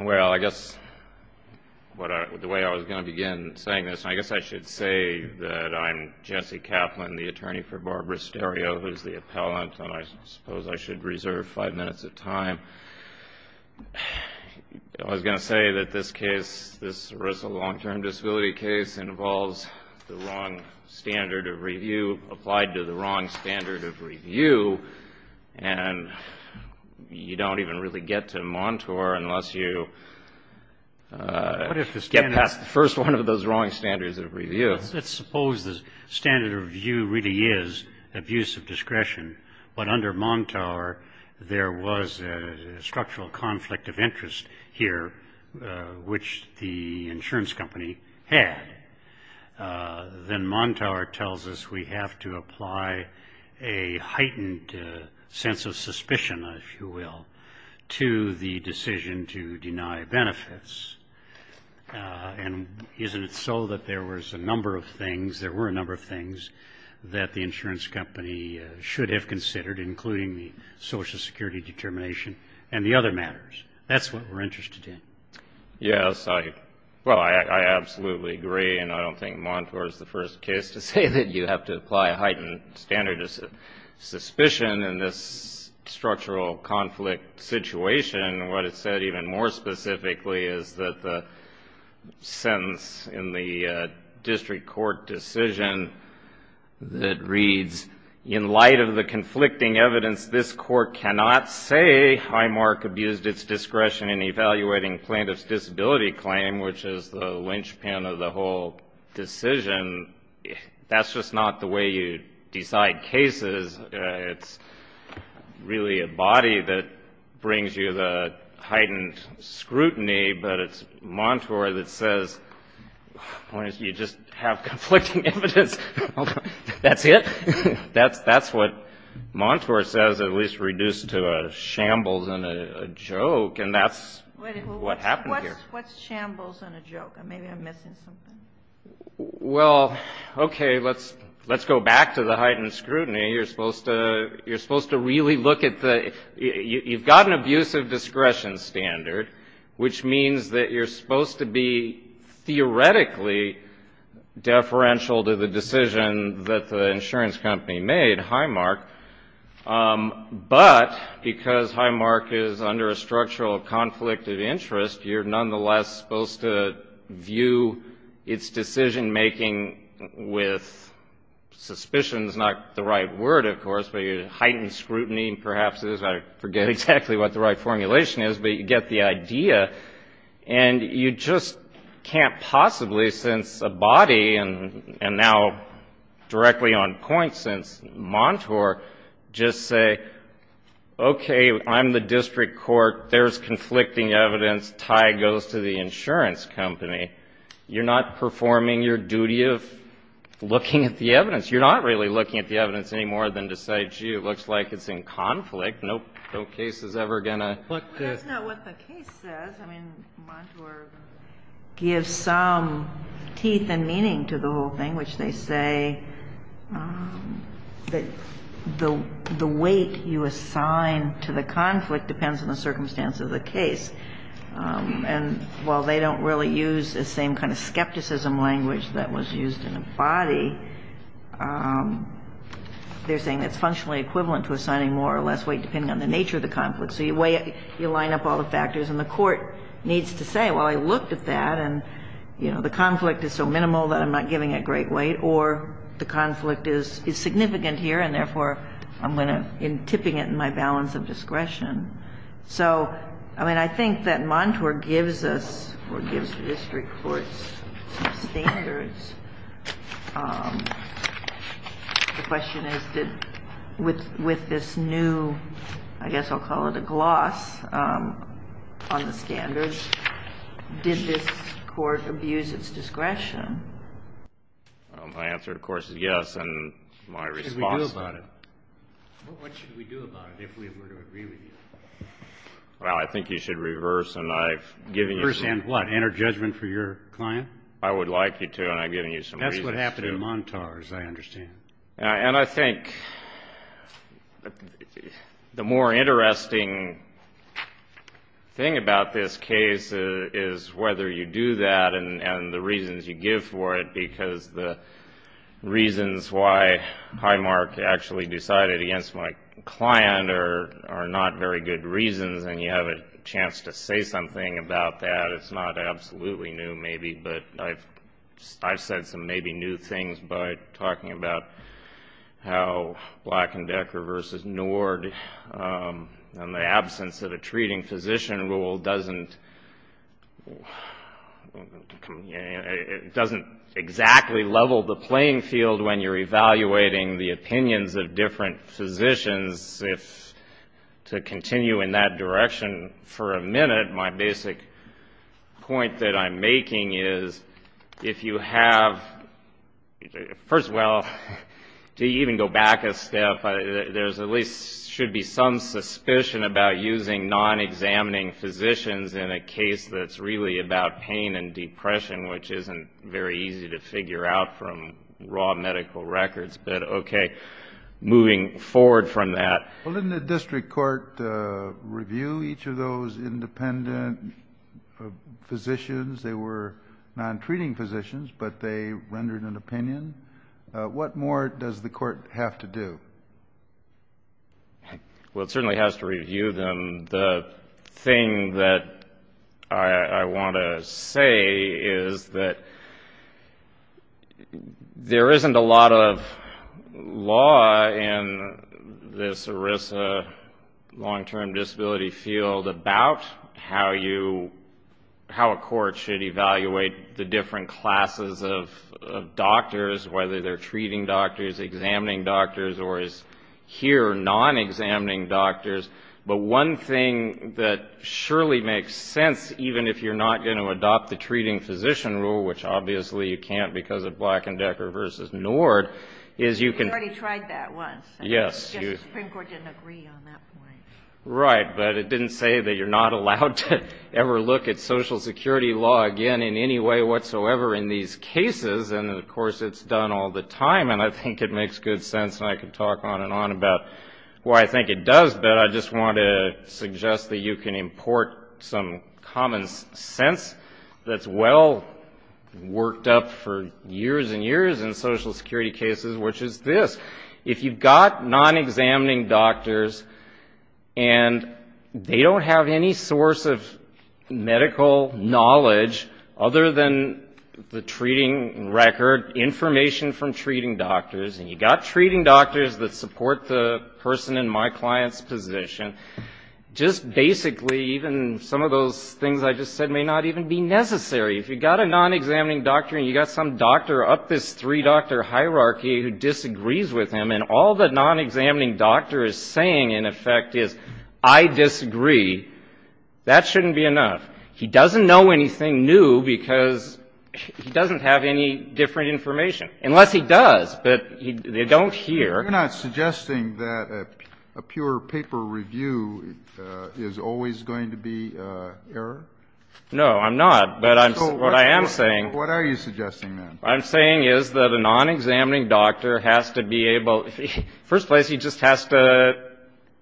Well, I guess the way I was going to begin saying this, I guess I should say that I'm Jesse Kaplan, the attorney for Barbara Sterio, who is the appellant, and I suppose I should reserve five minutes of time. I was going to say that this case, this arrest of a long-term disability case, involves the wrong standard of review, applied to the wrong standard of review, unless you get past the first one of those wrong standards of review. Dr. Robert J. Sterio Let's suppose the standard of review really is abuse of discretion, but under Montour, there was a structural conflict of interest here, which the insurance company had. Then Montour tells us we have to apply a heightened sense of suspicion, if you will, to the decision to deny benefits. And isn't it so that there was a number of things, there were a number of things, that the insurance company should have considered, including the Social Security determination and the other matters? That's what we're interested in. Justice Breyer Yes, I, well, I absolutely agree, and I don't think Montour is the first case to say that you have to apply a heightened standard of suspicion in this structural conflict situation. What it said even more specifically is that the sentence in the district court decision that reads, in light of the conflicting evidence this court cannot say, Highmark abused its discretion in evaluating plaintiff's disability claim, which is the linchpin of the whole decision, that's just not the way you decide cases. It's really a body that brings you the heightened scrutiny, but it's Montour that says, Why don't you just have conflicting evidence? That's it? That's what Montour says, at least reduced to a shambles and a joke, and that's what happened here. Justice Sotomayor What's shambles and a joke? Maybe I'm missing something. Justice Breyer Well, okay, let's go back to the heightened scrutiny. You're supposed to really look at the, you've got an abusive discretion standard, which means that you're supposed to be theoretically deferential to the decision that the insurance company made, Highmark, but because Highmark is under a structural conflict of interest, you're nonetheless supposed to view its decision-making with suspicions, not the right word, of course, but your heightened scrutiny perhaps is, I forget exactly what the right formulation is, but you get the idea, and you just can't possibly, since a body, and now directly on point since Montour, just say, Okay, I'm the district court, there's conflicting evidence, tie goes to the insurance company. You're not performing your duty of looking at the evidence. You're not really looking at the evidence any more than to say, Gee, it looks like it's in conflict. No case is ever going to look to Justice Kagan That's not what the case says. I mean, Montour gives some teeth and meaning to the whole thing, which they say that the weight you And while they don't really use the same kind of skepticism language that was used in a body, they're saying it's functionally equivalent to assigning more or less weight depending on the nature of the conflict. So you weigh it, you line up all the factors, and the court needs to say, Well, I looked at that, and, you know, the conflict is so minimal that I'm not giving it great weight, or the conflict is significant here, and therefore I'm going to, in tipping it in my balance of discretion. So, I mean, I think that Montour gives us, or gives the district courts, some standards. The question is, with this new, I guess I'll call it a gloss on the standards, did this court abuse its discretion? My answer, of course, is yes, and my response What should we do about it if we were to agree with you? Well, I think you should reverse and I've given you some Reverse and what? Enter judgment for your client? I would like you to, and I've given you some reasons to That's what happened in Montour, as I understand And I think the more interesting thing about this case is whether you do that and the reasons you give for it, because the reasons why Highmark actually decided against my client are not very good reasons, and you have a chance to say something about that. It's not absolutely new, maybe, but I've said some maybe new things by talking about how It doesn't exactly level the playing field when you're evaluating the opinions of different physicians If, to continue in that direction for a minute, my basic point that I'm making is If you have, first of all, to even go back a step, there at least should be some suspicion about using non-examining physicians in a case that's really about pain and depression, which isn't very easy to figure out from raw medical records. But okay, moving forward from that Well, didn't the district court review each of those independent physicians? They were non-treating physicians, but they rendered an opinion. What more does the court have to do? Well, it certainly has to review them. The thing that I want to say is that there isn't a lot of law in this ERISA long-term disability field about how a court should evaluate the different classes of doctors, whether they're treating doctors, examining doctors, or, as here, non-examining doctors. But one thing that surely makes sense, even if you're not going to adopt the treating physician rule, which obviously you can't because of Black & Decker v. NORD, is you can We already tried that once. Yes. The Supreme Court didn't agree on that point. Right, but it didn't say that you're not allowed to ever look at Social Security law again in any way whatsoever in these cases. And, of course, it's done all the time, and I think it makes good sense, and I could talk on and on about why I think it does. But I just want to suggest that you can import some common sense that's well worked up for years and years in Social Security cases, which is this. If you've got non-examining doctors and they don't have any source of medical knowledge, other than the treating record, information from treating doctors, and you've got treating doctors that support the person in my client's position, just basically even some of those things I just said may not even be necessary. If you've got a non-examining doctor and you've got some doctor up this three-doctor hierarchy who disagrees with him and all the non-examining doctor is saying, in effect, is I disagree, that shouldn't be enough. He doesn't know anything new because he doesn't have any different information. Unless he does. But they don't hear. Kennedy. You're not suggesting that a pure paper review is always going to be error? Feigin. No, I'm not. But what I am saying — Kennedy. What are you suggesting, then? Feigin. What I'm saying is that a non-examining doctor has to be able — first place, he just has to,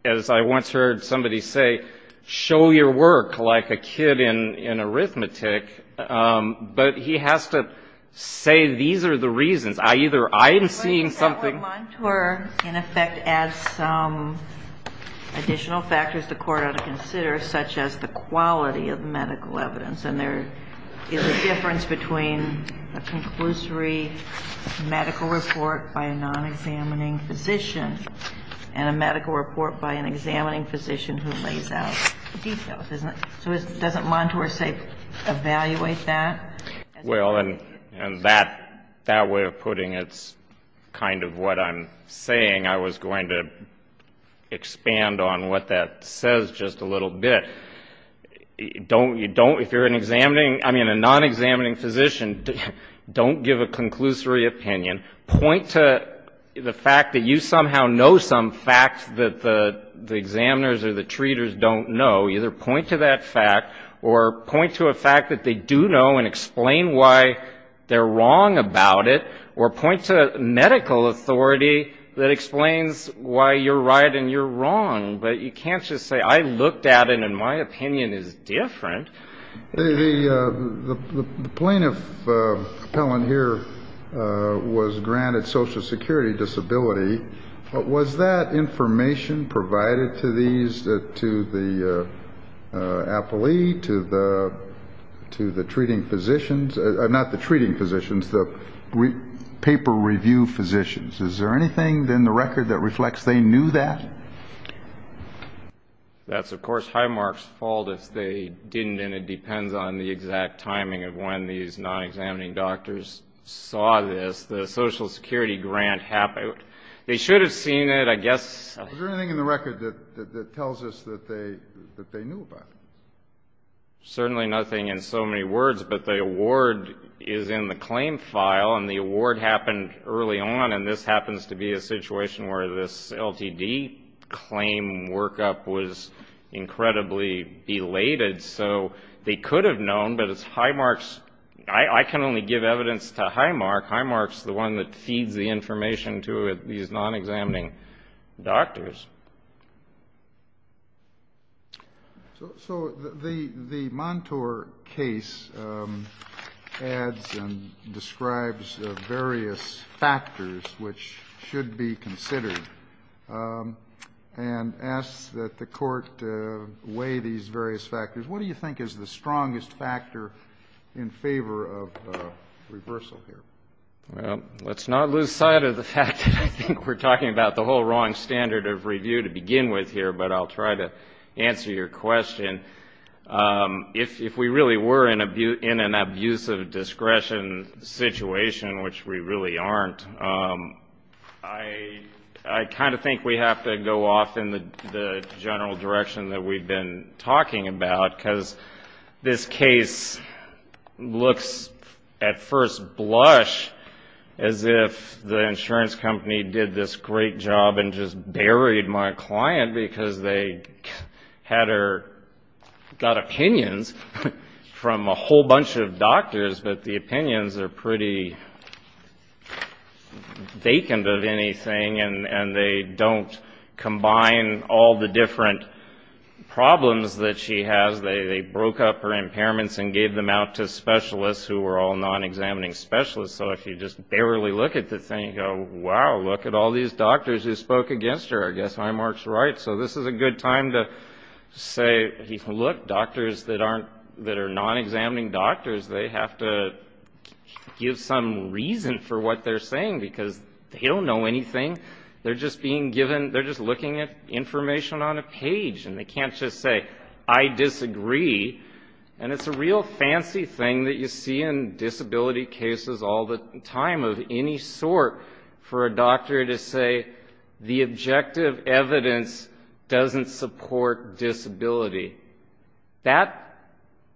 as I once heard somebody say, show your work like a kid in arithmetic. But he has to say these are the reasons. I either — I am seeing something — Kagan. Well, I think that would mentor, in effect, add some additional factors the Court ought to consider, such as the quality of medical evidence. And there is a difference between a conclusory medical report by a non-examining physician and a medical report by an examining physician who lays out details, isn't it? So doesn't mentor, say, evaluate that? Well, and that way of putting it is kind of what I'm saying. I was going to expand on what that says just a little bit. Don't — if you're an examining — I mean, a non-examining physician, don't give a conclusory opinion. Point to the fact that you somehow know some facts that the examiners or the treaters don't know. Either point to that fact or point to a fact that they do know and explain why they're wrong about it, or point to medical authority that explains why you're right and you're wrong. But you can't just say, I looked at it and my opinion is different. The plaintiff appellant here was granted Social Security disability. Was that information provided to these, to the appellee, to the treating physicians? Not the treating physicians, the paper review physicians. Is there anything in the record that reflects they knew that? That's, of course, Highmark's fault if they didn't, and it depends on the exact timing of when these non-examining doctors saw this. The Social Security grant — they should have seen it, I guess. Is there anything in the record that tells us that they knew about it? Certainly nothing in so many words, but the award is in the claim file, and the award happened early on, and this happens to be a situation where this LTD claim workup was incredibly belated. So they could have known, but it's Highmark's — I can only give evidence to Highmark. Highmark's the one that feeds the information to these non-examining doctors. So the Montour case adds and describes various factors which should be considered and asks that the Court weigh these various factors. What do you think is the strongest factor in favor of reversal here? Well, let's not lose sight of the fact that I think we're talking about the whole wrong standard of reversal. But I'll try to answer your question. If we really were in an abusive discretion situation, which we really aren't, I kind of think we have to go off in the general direction that we've been talking about, because this case looks at first blush as if the insurance company did this great job and just buried my client because they had her — got opinions from a whole bunch of doctors, but the opinions are pretty vacant of anything, and they don't combine all the different problems that she has. They broke up her impairments and gave them out to specialists who were all non-examining specialists. So if you just barely look at the thing, you go, wow, look at all these doctors who spoke against her. I guess Highmark's right. So this is a good time to say, look, doctors that are non-examining doctors, they have to give some reason for what they're saying, because they don't know anything. They're just looking at information on a page, and they can't just say, I disagree. And it's a real fancy thing that you see in disability cases all the time of any sort, for a doctor to say the objective evidence doesn't support disability. That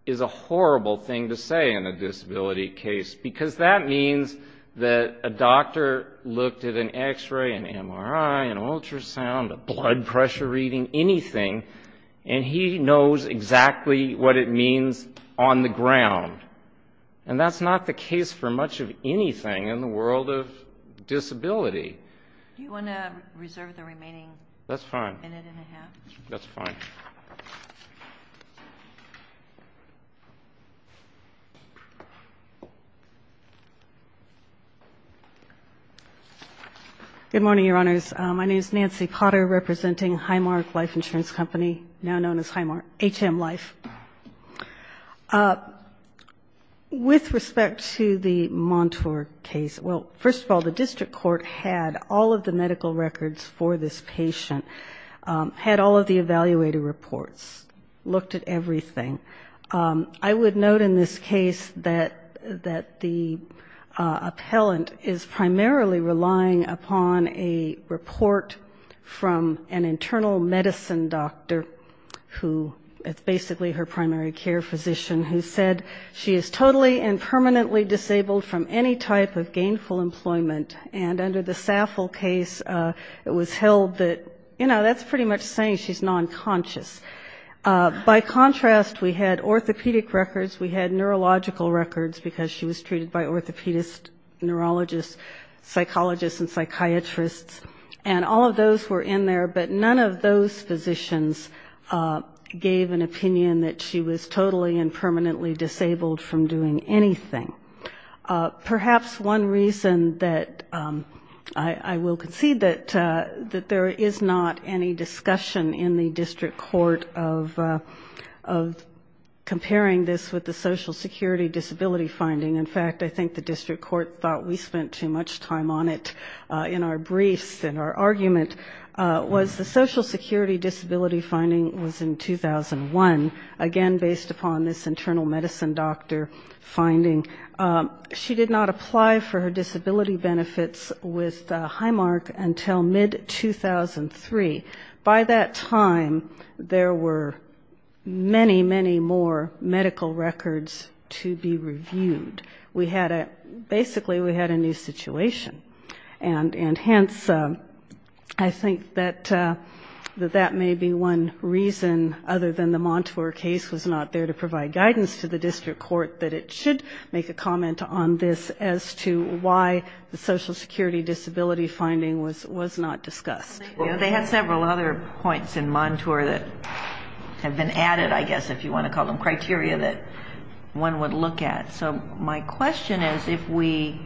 is a horrible thing to say in a disability case, because that means that a doctor looked at an X-ray, an MRI, an ultrasound, a blood pressure reading, anything, and he knows exactly what it means on the ground. And that's not the case for much of anything in the world of disability. Do you want to reserve the remaining minute and a half? That's fine. Thank you. Good morning, Your Honors. My name is Nancy Potter, representing Highmark Life Insurance Company, now known as HM Life. With respect to the Montour case, well, first of all, the district court had all of the medical records for this patient, had all of the evaluated reports, looked at everything. I would note in this case that the appellant is primarily relying upon a report from an internal medicine doctor, who is basically her primary care physician, who said she is totally and permanently disabled from any type of gainful employment, and under the Saffel case it was held that, you know, that's pretty much saying she's non-conscious. By contrast, we had orthopedic records, we had neurological records, because she was treated by orthopedists, neurologists, psychologists and psychiatrists, and all of those were in there, but none of those physicians gave an opinion that she was totally and permanently disabled from doing anything. Perhaps one reason that I will concede that there is not any discussion in the district court of comparing this with the social security disability finding, in fact, I think the district court thought we spent too much time on it in our briefs and our argument, was the social security disability finding was in 2001, again based upon this internal medicine doctor finding. She did not apply for her disability benefits with Highmark until mid-2003. By that time, there were many, many more medical records to be reviewed. We had a, basically we had a new situation. And hence, I think that that may be one reason, other than the Montour case was not there to provide guidance to the district court, that it should make a comment on this as to why the social security disability finding was not discussed. They had several other points in Montour that have been added, I guess, if you want to call them criteria that one would look at. So my question is, if we,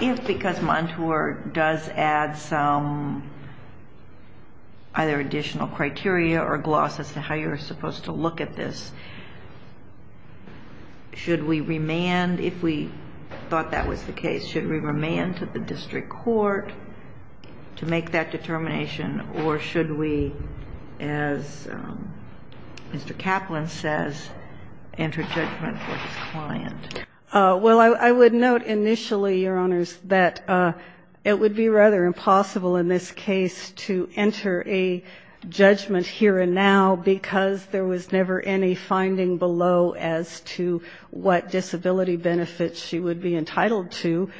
if because Montour does add some either additional criteria or gloss as to how you're supposed to look at this, should we remand, if we thought that was the case, should we remand to the district court to make that determination? Or should we, as Mr. Kaplan says, enter judgment with his client? Well, I would note initially, Your Honors, that it would be rather impossible in this case to enter a judgment here and now, because there was never any finding below as to what disability benefits she would be entitled to.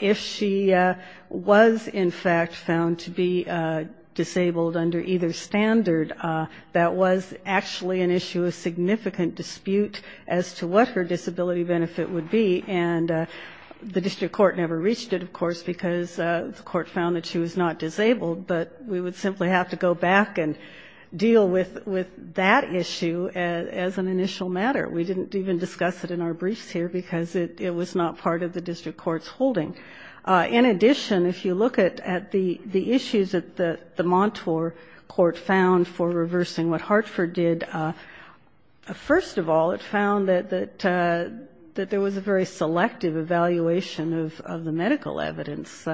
If she was, in fact, found to be disabled under either standard, that was actually an issue of significant dispute as to what her benefit would be, and the district court never reached it, of course, because the court found that she was not disabled. But we would simply have to go back and deal with that issue as an initial matter. We didn't even discuss it in our briefs here, because it was not part of the district court's holding. In addition, if you look at the issues that the Montour court found for reversing what Hartford did, first of all, it found that there was a very selective evaluation of the medical evidence.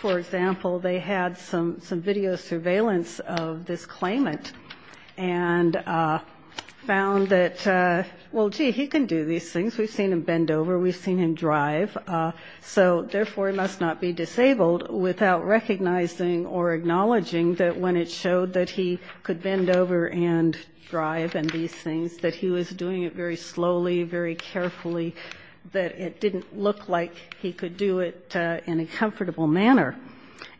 For example, they had some video surveillance of this claimant, and found that, well, gee, he can do these things. We've seen him bend over. We've seen him drive. So, therefore, he must not be disabled without recognizing or acknowledging that when it showed that he could bend over and drive and these things, that he was doing it very slowly, very carefully, that it didn't look like he could do it in a comfortable manner.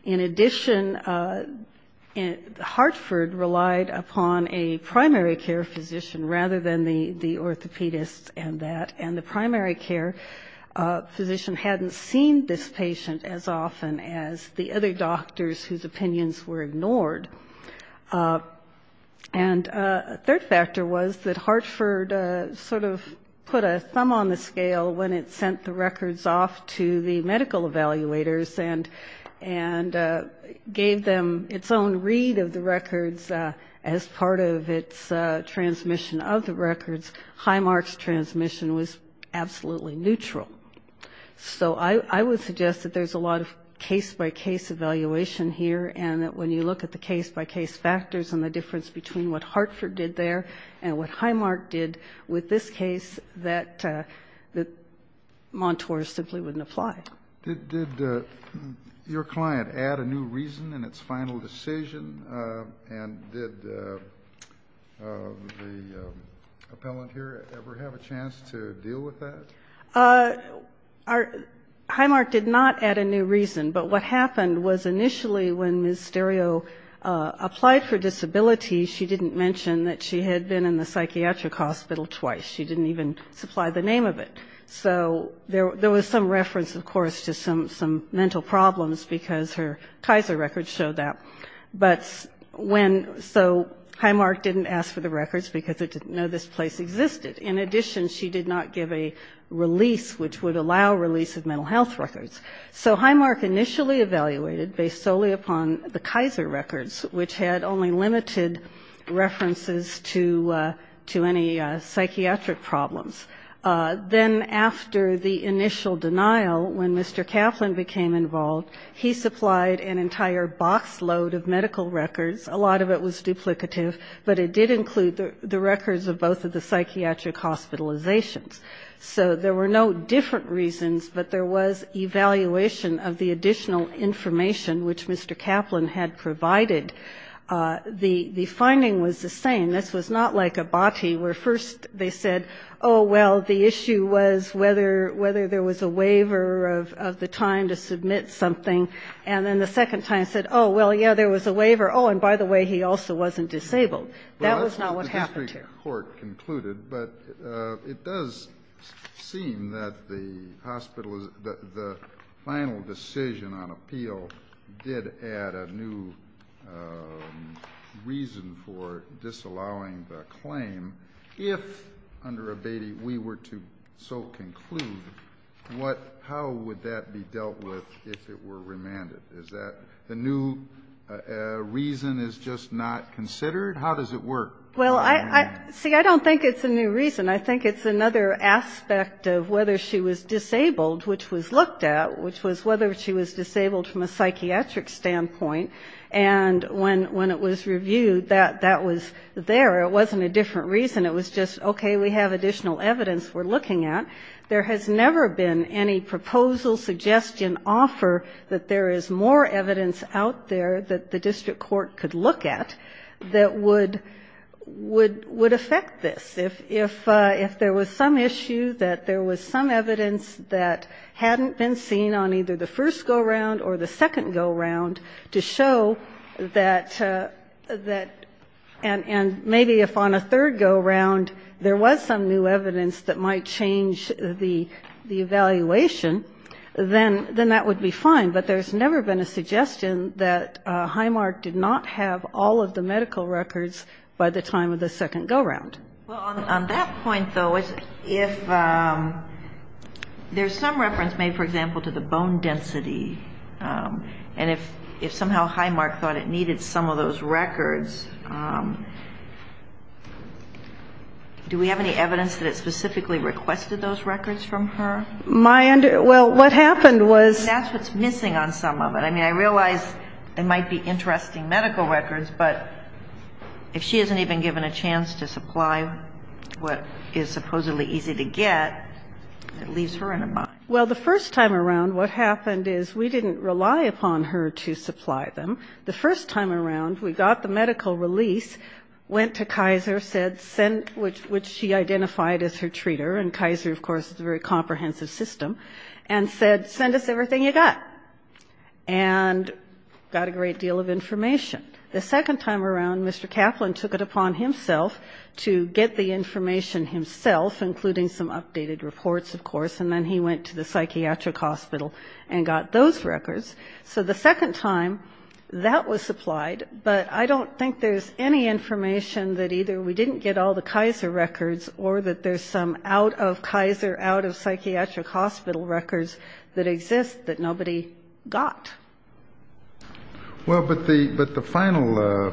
In addition, Hartford relied upon a primary care physician rather than the orthopedist and that, and the primary care physician hadn't seen this patient as often as the other doctors whose opinions were ignored. And a third factor was that Hartford sort of put a thumb on the scale when it sent the records off to the medical evaluators and gave them its own read of the records as part of its transmission of the records. Highmark's transmission was absolutely neutral. So I would suggest that there's a lot of case-by-case evaluation here, and that when you look at the case-by-case factors and the difference between what Hartford did there and what Highmark did with this case, that the mentors simply wouldn't apply. Did your client add a new reason in its final decision? And did the appellant here ever have a chance to deal with that? Highmark did not add a new reason, but what happened was initially when Ms. Stereo applied for disability, she didn't mention that she had been in the psychiatric hospital twice. She didn't even supply the name of it. So there was some reference, of course, to some mental problems because her Kaiser records showed that. But when so Highmark didn't ask for the records because it didn't know this place existed. In addition, she did not give a release which would allow release of mental health records. So Highmark initially evaluated based solely upon the Kaiser records, which had only limited references to any psychiatric problems. So there were no different reasons, but there was evaluation of the additional information which Mr. Kaplan had provided. The finding was the same. This was not like a botty where first they said, oh, well, the issue was whether there was a waiver of the time to submit something, and then the second time said, oh, well, yeah, there was a waiver. Oh, and by the way, he also wasn't disabled. That was not what happened here. It does seem that the final decision on appeal did add a new reason for disallowing the claim. If, under Abatey, we were to so conclude, how would that be dealt with if it were remanded? Is that the new reason is just not considered? How does it work? Well, see, I don't think it's a new reason. I think it's another aspect of whether she was disabled, which was looked at, which was whether she was disabled from a psychiatric standpoint. I don't think it's a new reason. It was just, okay, we have additional evidence we're looking at. There has never been any proposal, suggestion, offer that there is more evidence out there that the district court could look at that would affect this. If there was some issue that there was some evidence that hadn't been seen on either the first go-round or the second go-round to show that, and maybe if on a third go-round there was some new evidence that might change the evaluation, then that would be fine. But there's never been a suggestion that Highmark did not have all of the medical records by the time of the second go-round. Well, on that point, though, if there's some reference made, for example, to the bone density, and if somehow Highmark thought it was, do we have any evidence that it specifically requested those records from her? My under ---- well, what happened was ---- And that's what's missing on some of it. I mean, I realize there might be interesting medical records, but if she hasn't even given a chance to supply what is supposedly easy to get, it leaves her in a bind. Well, the first time around, what happened is we didn't rely upon her to supply them. The first time around, we got the medical release, went to Kaiser, said send ---- which she identified as her treater, and Kaiser, of course, is a very comprehensive system, and said, send us everything you got, and got a great deal of information. The second time around, Mr. Kaplan took it upon himself to get the information himself, including some updated reports, of course, and then he went to the psychiatric hospital and got those records. That was supplied, but I don't think there's any information that either we didn't get all the Kaiser records or that there's some out-of-Kaiser, out-of-psychiatric-hospital records that exist that nobody got. Well, but the final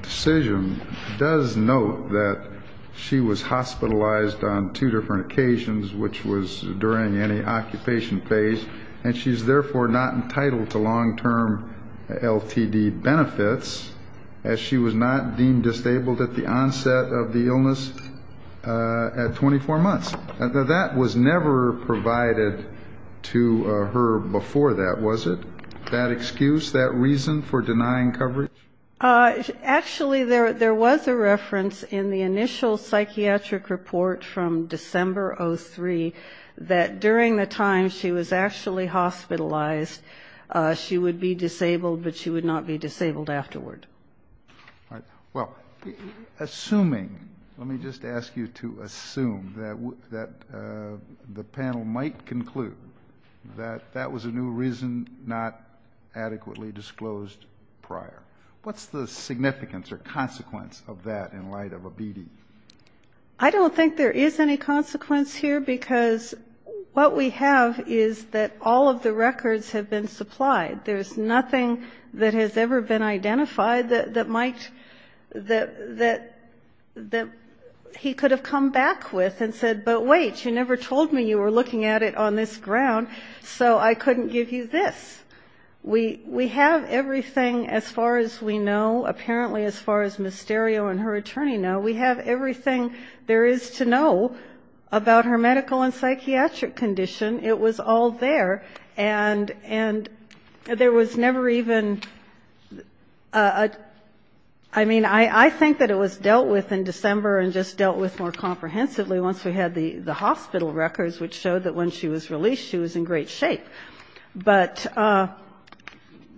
decision does note that she was hospitalized on two different occasions, which was during any occupation phase, and she's therefore not entitled to long-term LTD benefits, as she was not deemed disabled at the onset of the illness at 24 months. Now, that was never provided to her before that, was it, that excuse, that reason for denying coverage? Actually, there was a reference in the initial psychiatric report from December of 2003 that during the time she was actually hospitalized, she would be disabled, but she would not be disabled afterward. Well, assuming, let me just ask you to assume that the panel might conclude that that was a new reason not adequately disclosed prior. What's the significance or consequence of that in light of OBD? I don't think there is any consequence here, because what we have is that all of the records have been supplied. There's nothing that has ever been identified that might, that he could have come back with and said, but wait, you never told me you were looking at it on this ground, so I couldn't give you this. We have everything, as far as we know, apparently, as far as Ms. Stereo and her attorney know, we have everything. We have everything there is to know about her medical and psychiatric condition. It was all there, and there was never even a, I mean, I think that it was dealt with in December and just dealt with more comprehensively once we had the hospital records, which showed that when she was released, she was in great shape. But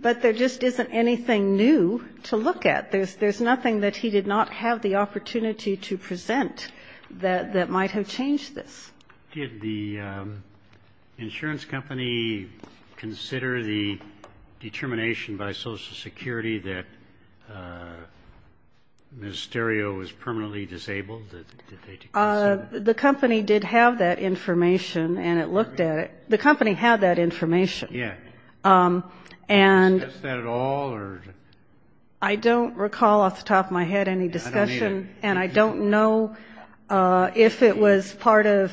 there just isn't anything new to look at. There's nothing new to present that might have changed this. Did the insurance company consider the determination by Social Security that Ms. Stereo was permanently disabled? The company did have that information, and it looked at it. The company had that information. And I don't recall off the top of my head any discussion, and I don't know if it was part of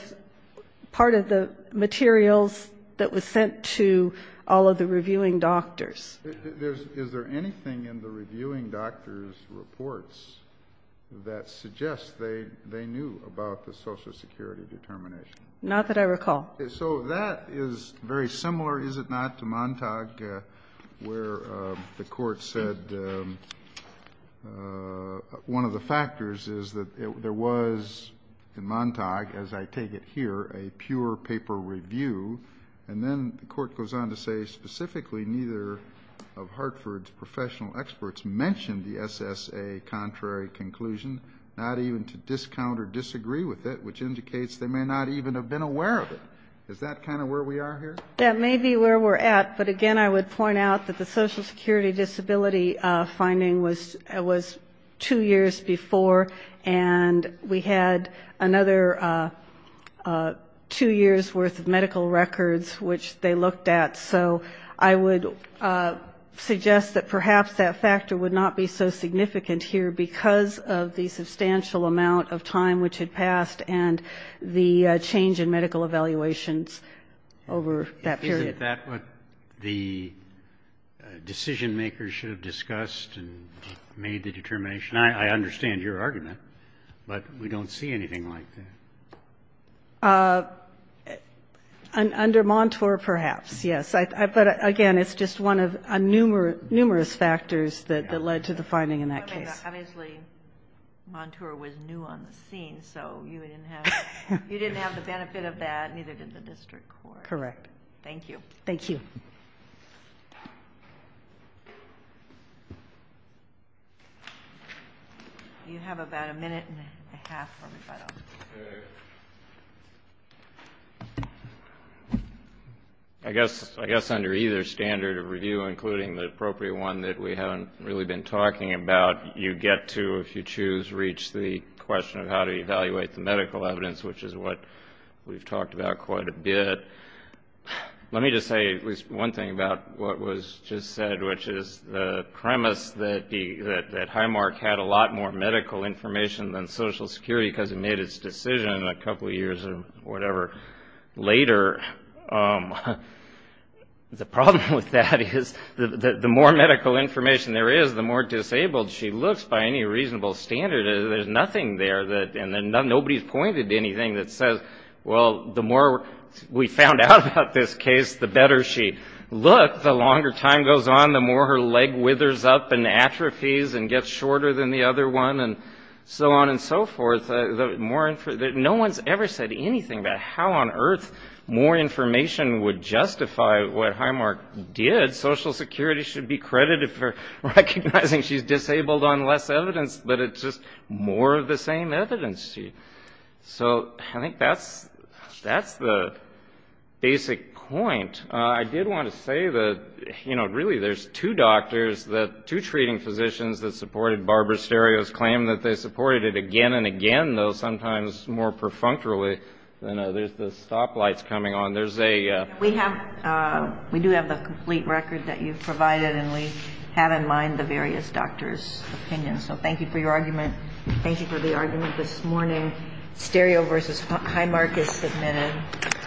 the materials that was sent to all of the reviewing doctors. Is there anything in the reviewing doctor's reports that suggests they knew about the Social Security determination? Not that I recall. So that is very similar, is it not, to Montauk, where the Court said one of the factors is that there was, in Montauk, as I take it here, a pure paper review. And then the Court goes on to say specifically neither of Hartford's professional experts mentioned the SSA contrary conclusion, not even to discount or disagree with it, which indicates they may not even have been aware of it. Is that kind of where we are here? That may be where we're at, but again, I would point out that the Social Security disability finding was two years before, and we had another two years' worth of medical records which they looked at. So I would suggest that perhaps that factor would not be so significant here because of the substantial amount of time which had passed and the change in medical evaluations over that period. Isn't that what the decision-makers should have discussed and made the determination? I understand your argument, but we don't see anything like that. Under Montour, perhaps, yes. But again, it's just one of numerous factors that led to the finding in that case. Obviously, Montour was new on the scene, so you didn't have the benefit of that, neither did the district court. Correct. Thank you. I guess under either standard of review, including the appropriate one that we haven't really been talking about, you get to, if you choose, reach the question of how to evaluate the medical evidence, which is what we've talked about quite a bit. Let me just say one thing about what was just said, which is the premise that Highmark had a lot more medical information than Social Security because it made its decision a couple of years or whatever later. The problem with that is the more medical information there is, the more disabled she looks, by any reasonable standard. There's nothing there, and nobody's pointed to anything that says, well, the more we found out about this case, the better she looked, the longer time goes on, the more her leg withers up and atrophies and gets shorter than the other one, and so on and so forth. If medical information would justify what Highmark did, Social Security should be credited for recognizing she's disabled on less evidence, but it's just more of the same evidence. So I think that's the basic point. I did want to say that, you know, really there's two doctors, two treating physicians that supported Barbara Sterio's claim that they had a lot of medical information. There's a... We do have the complete record that you provided, and we have in mind the various doctors' opinions. So thank you for your argument, and thank you for the argument this morning. Sterio v. Highmark is submitted.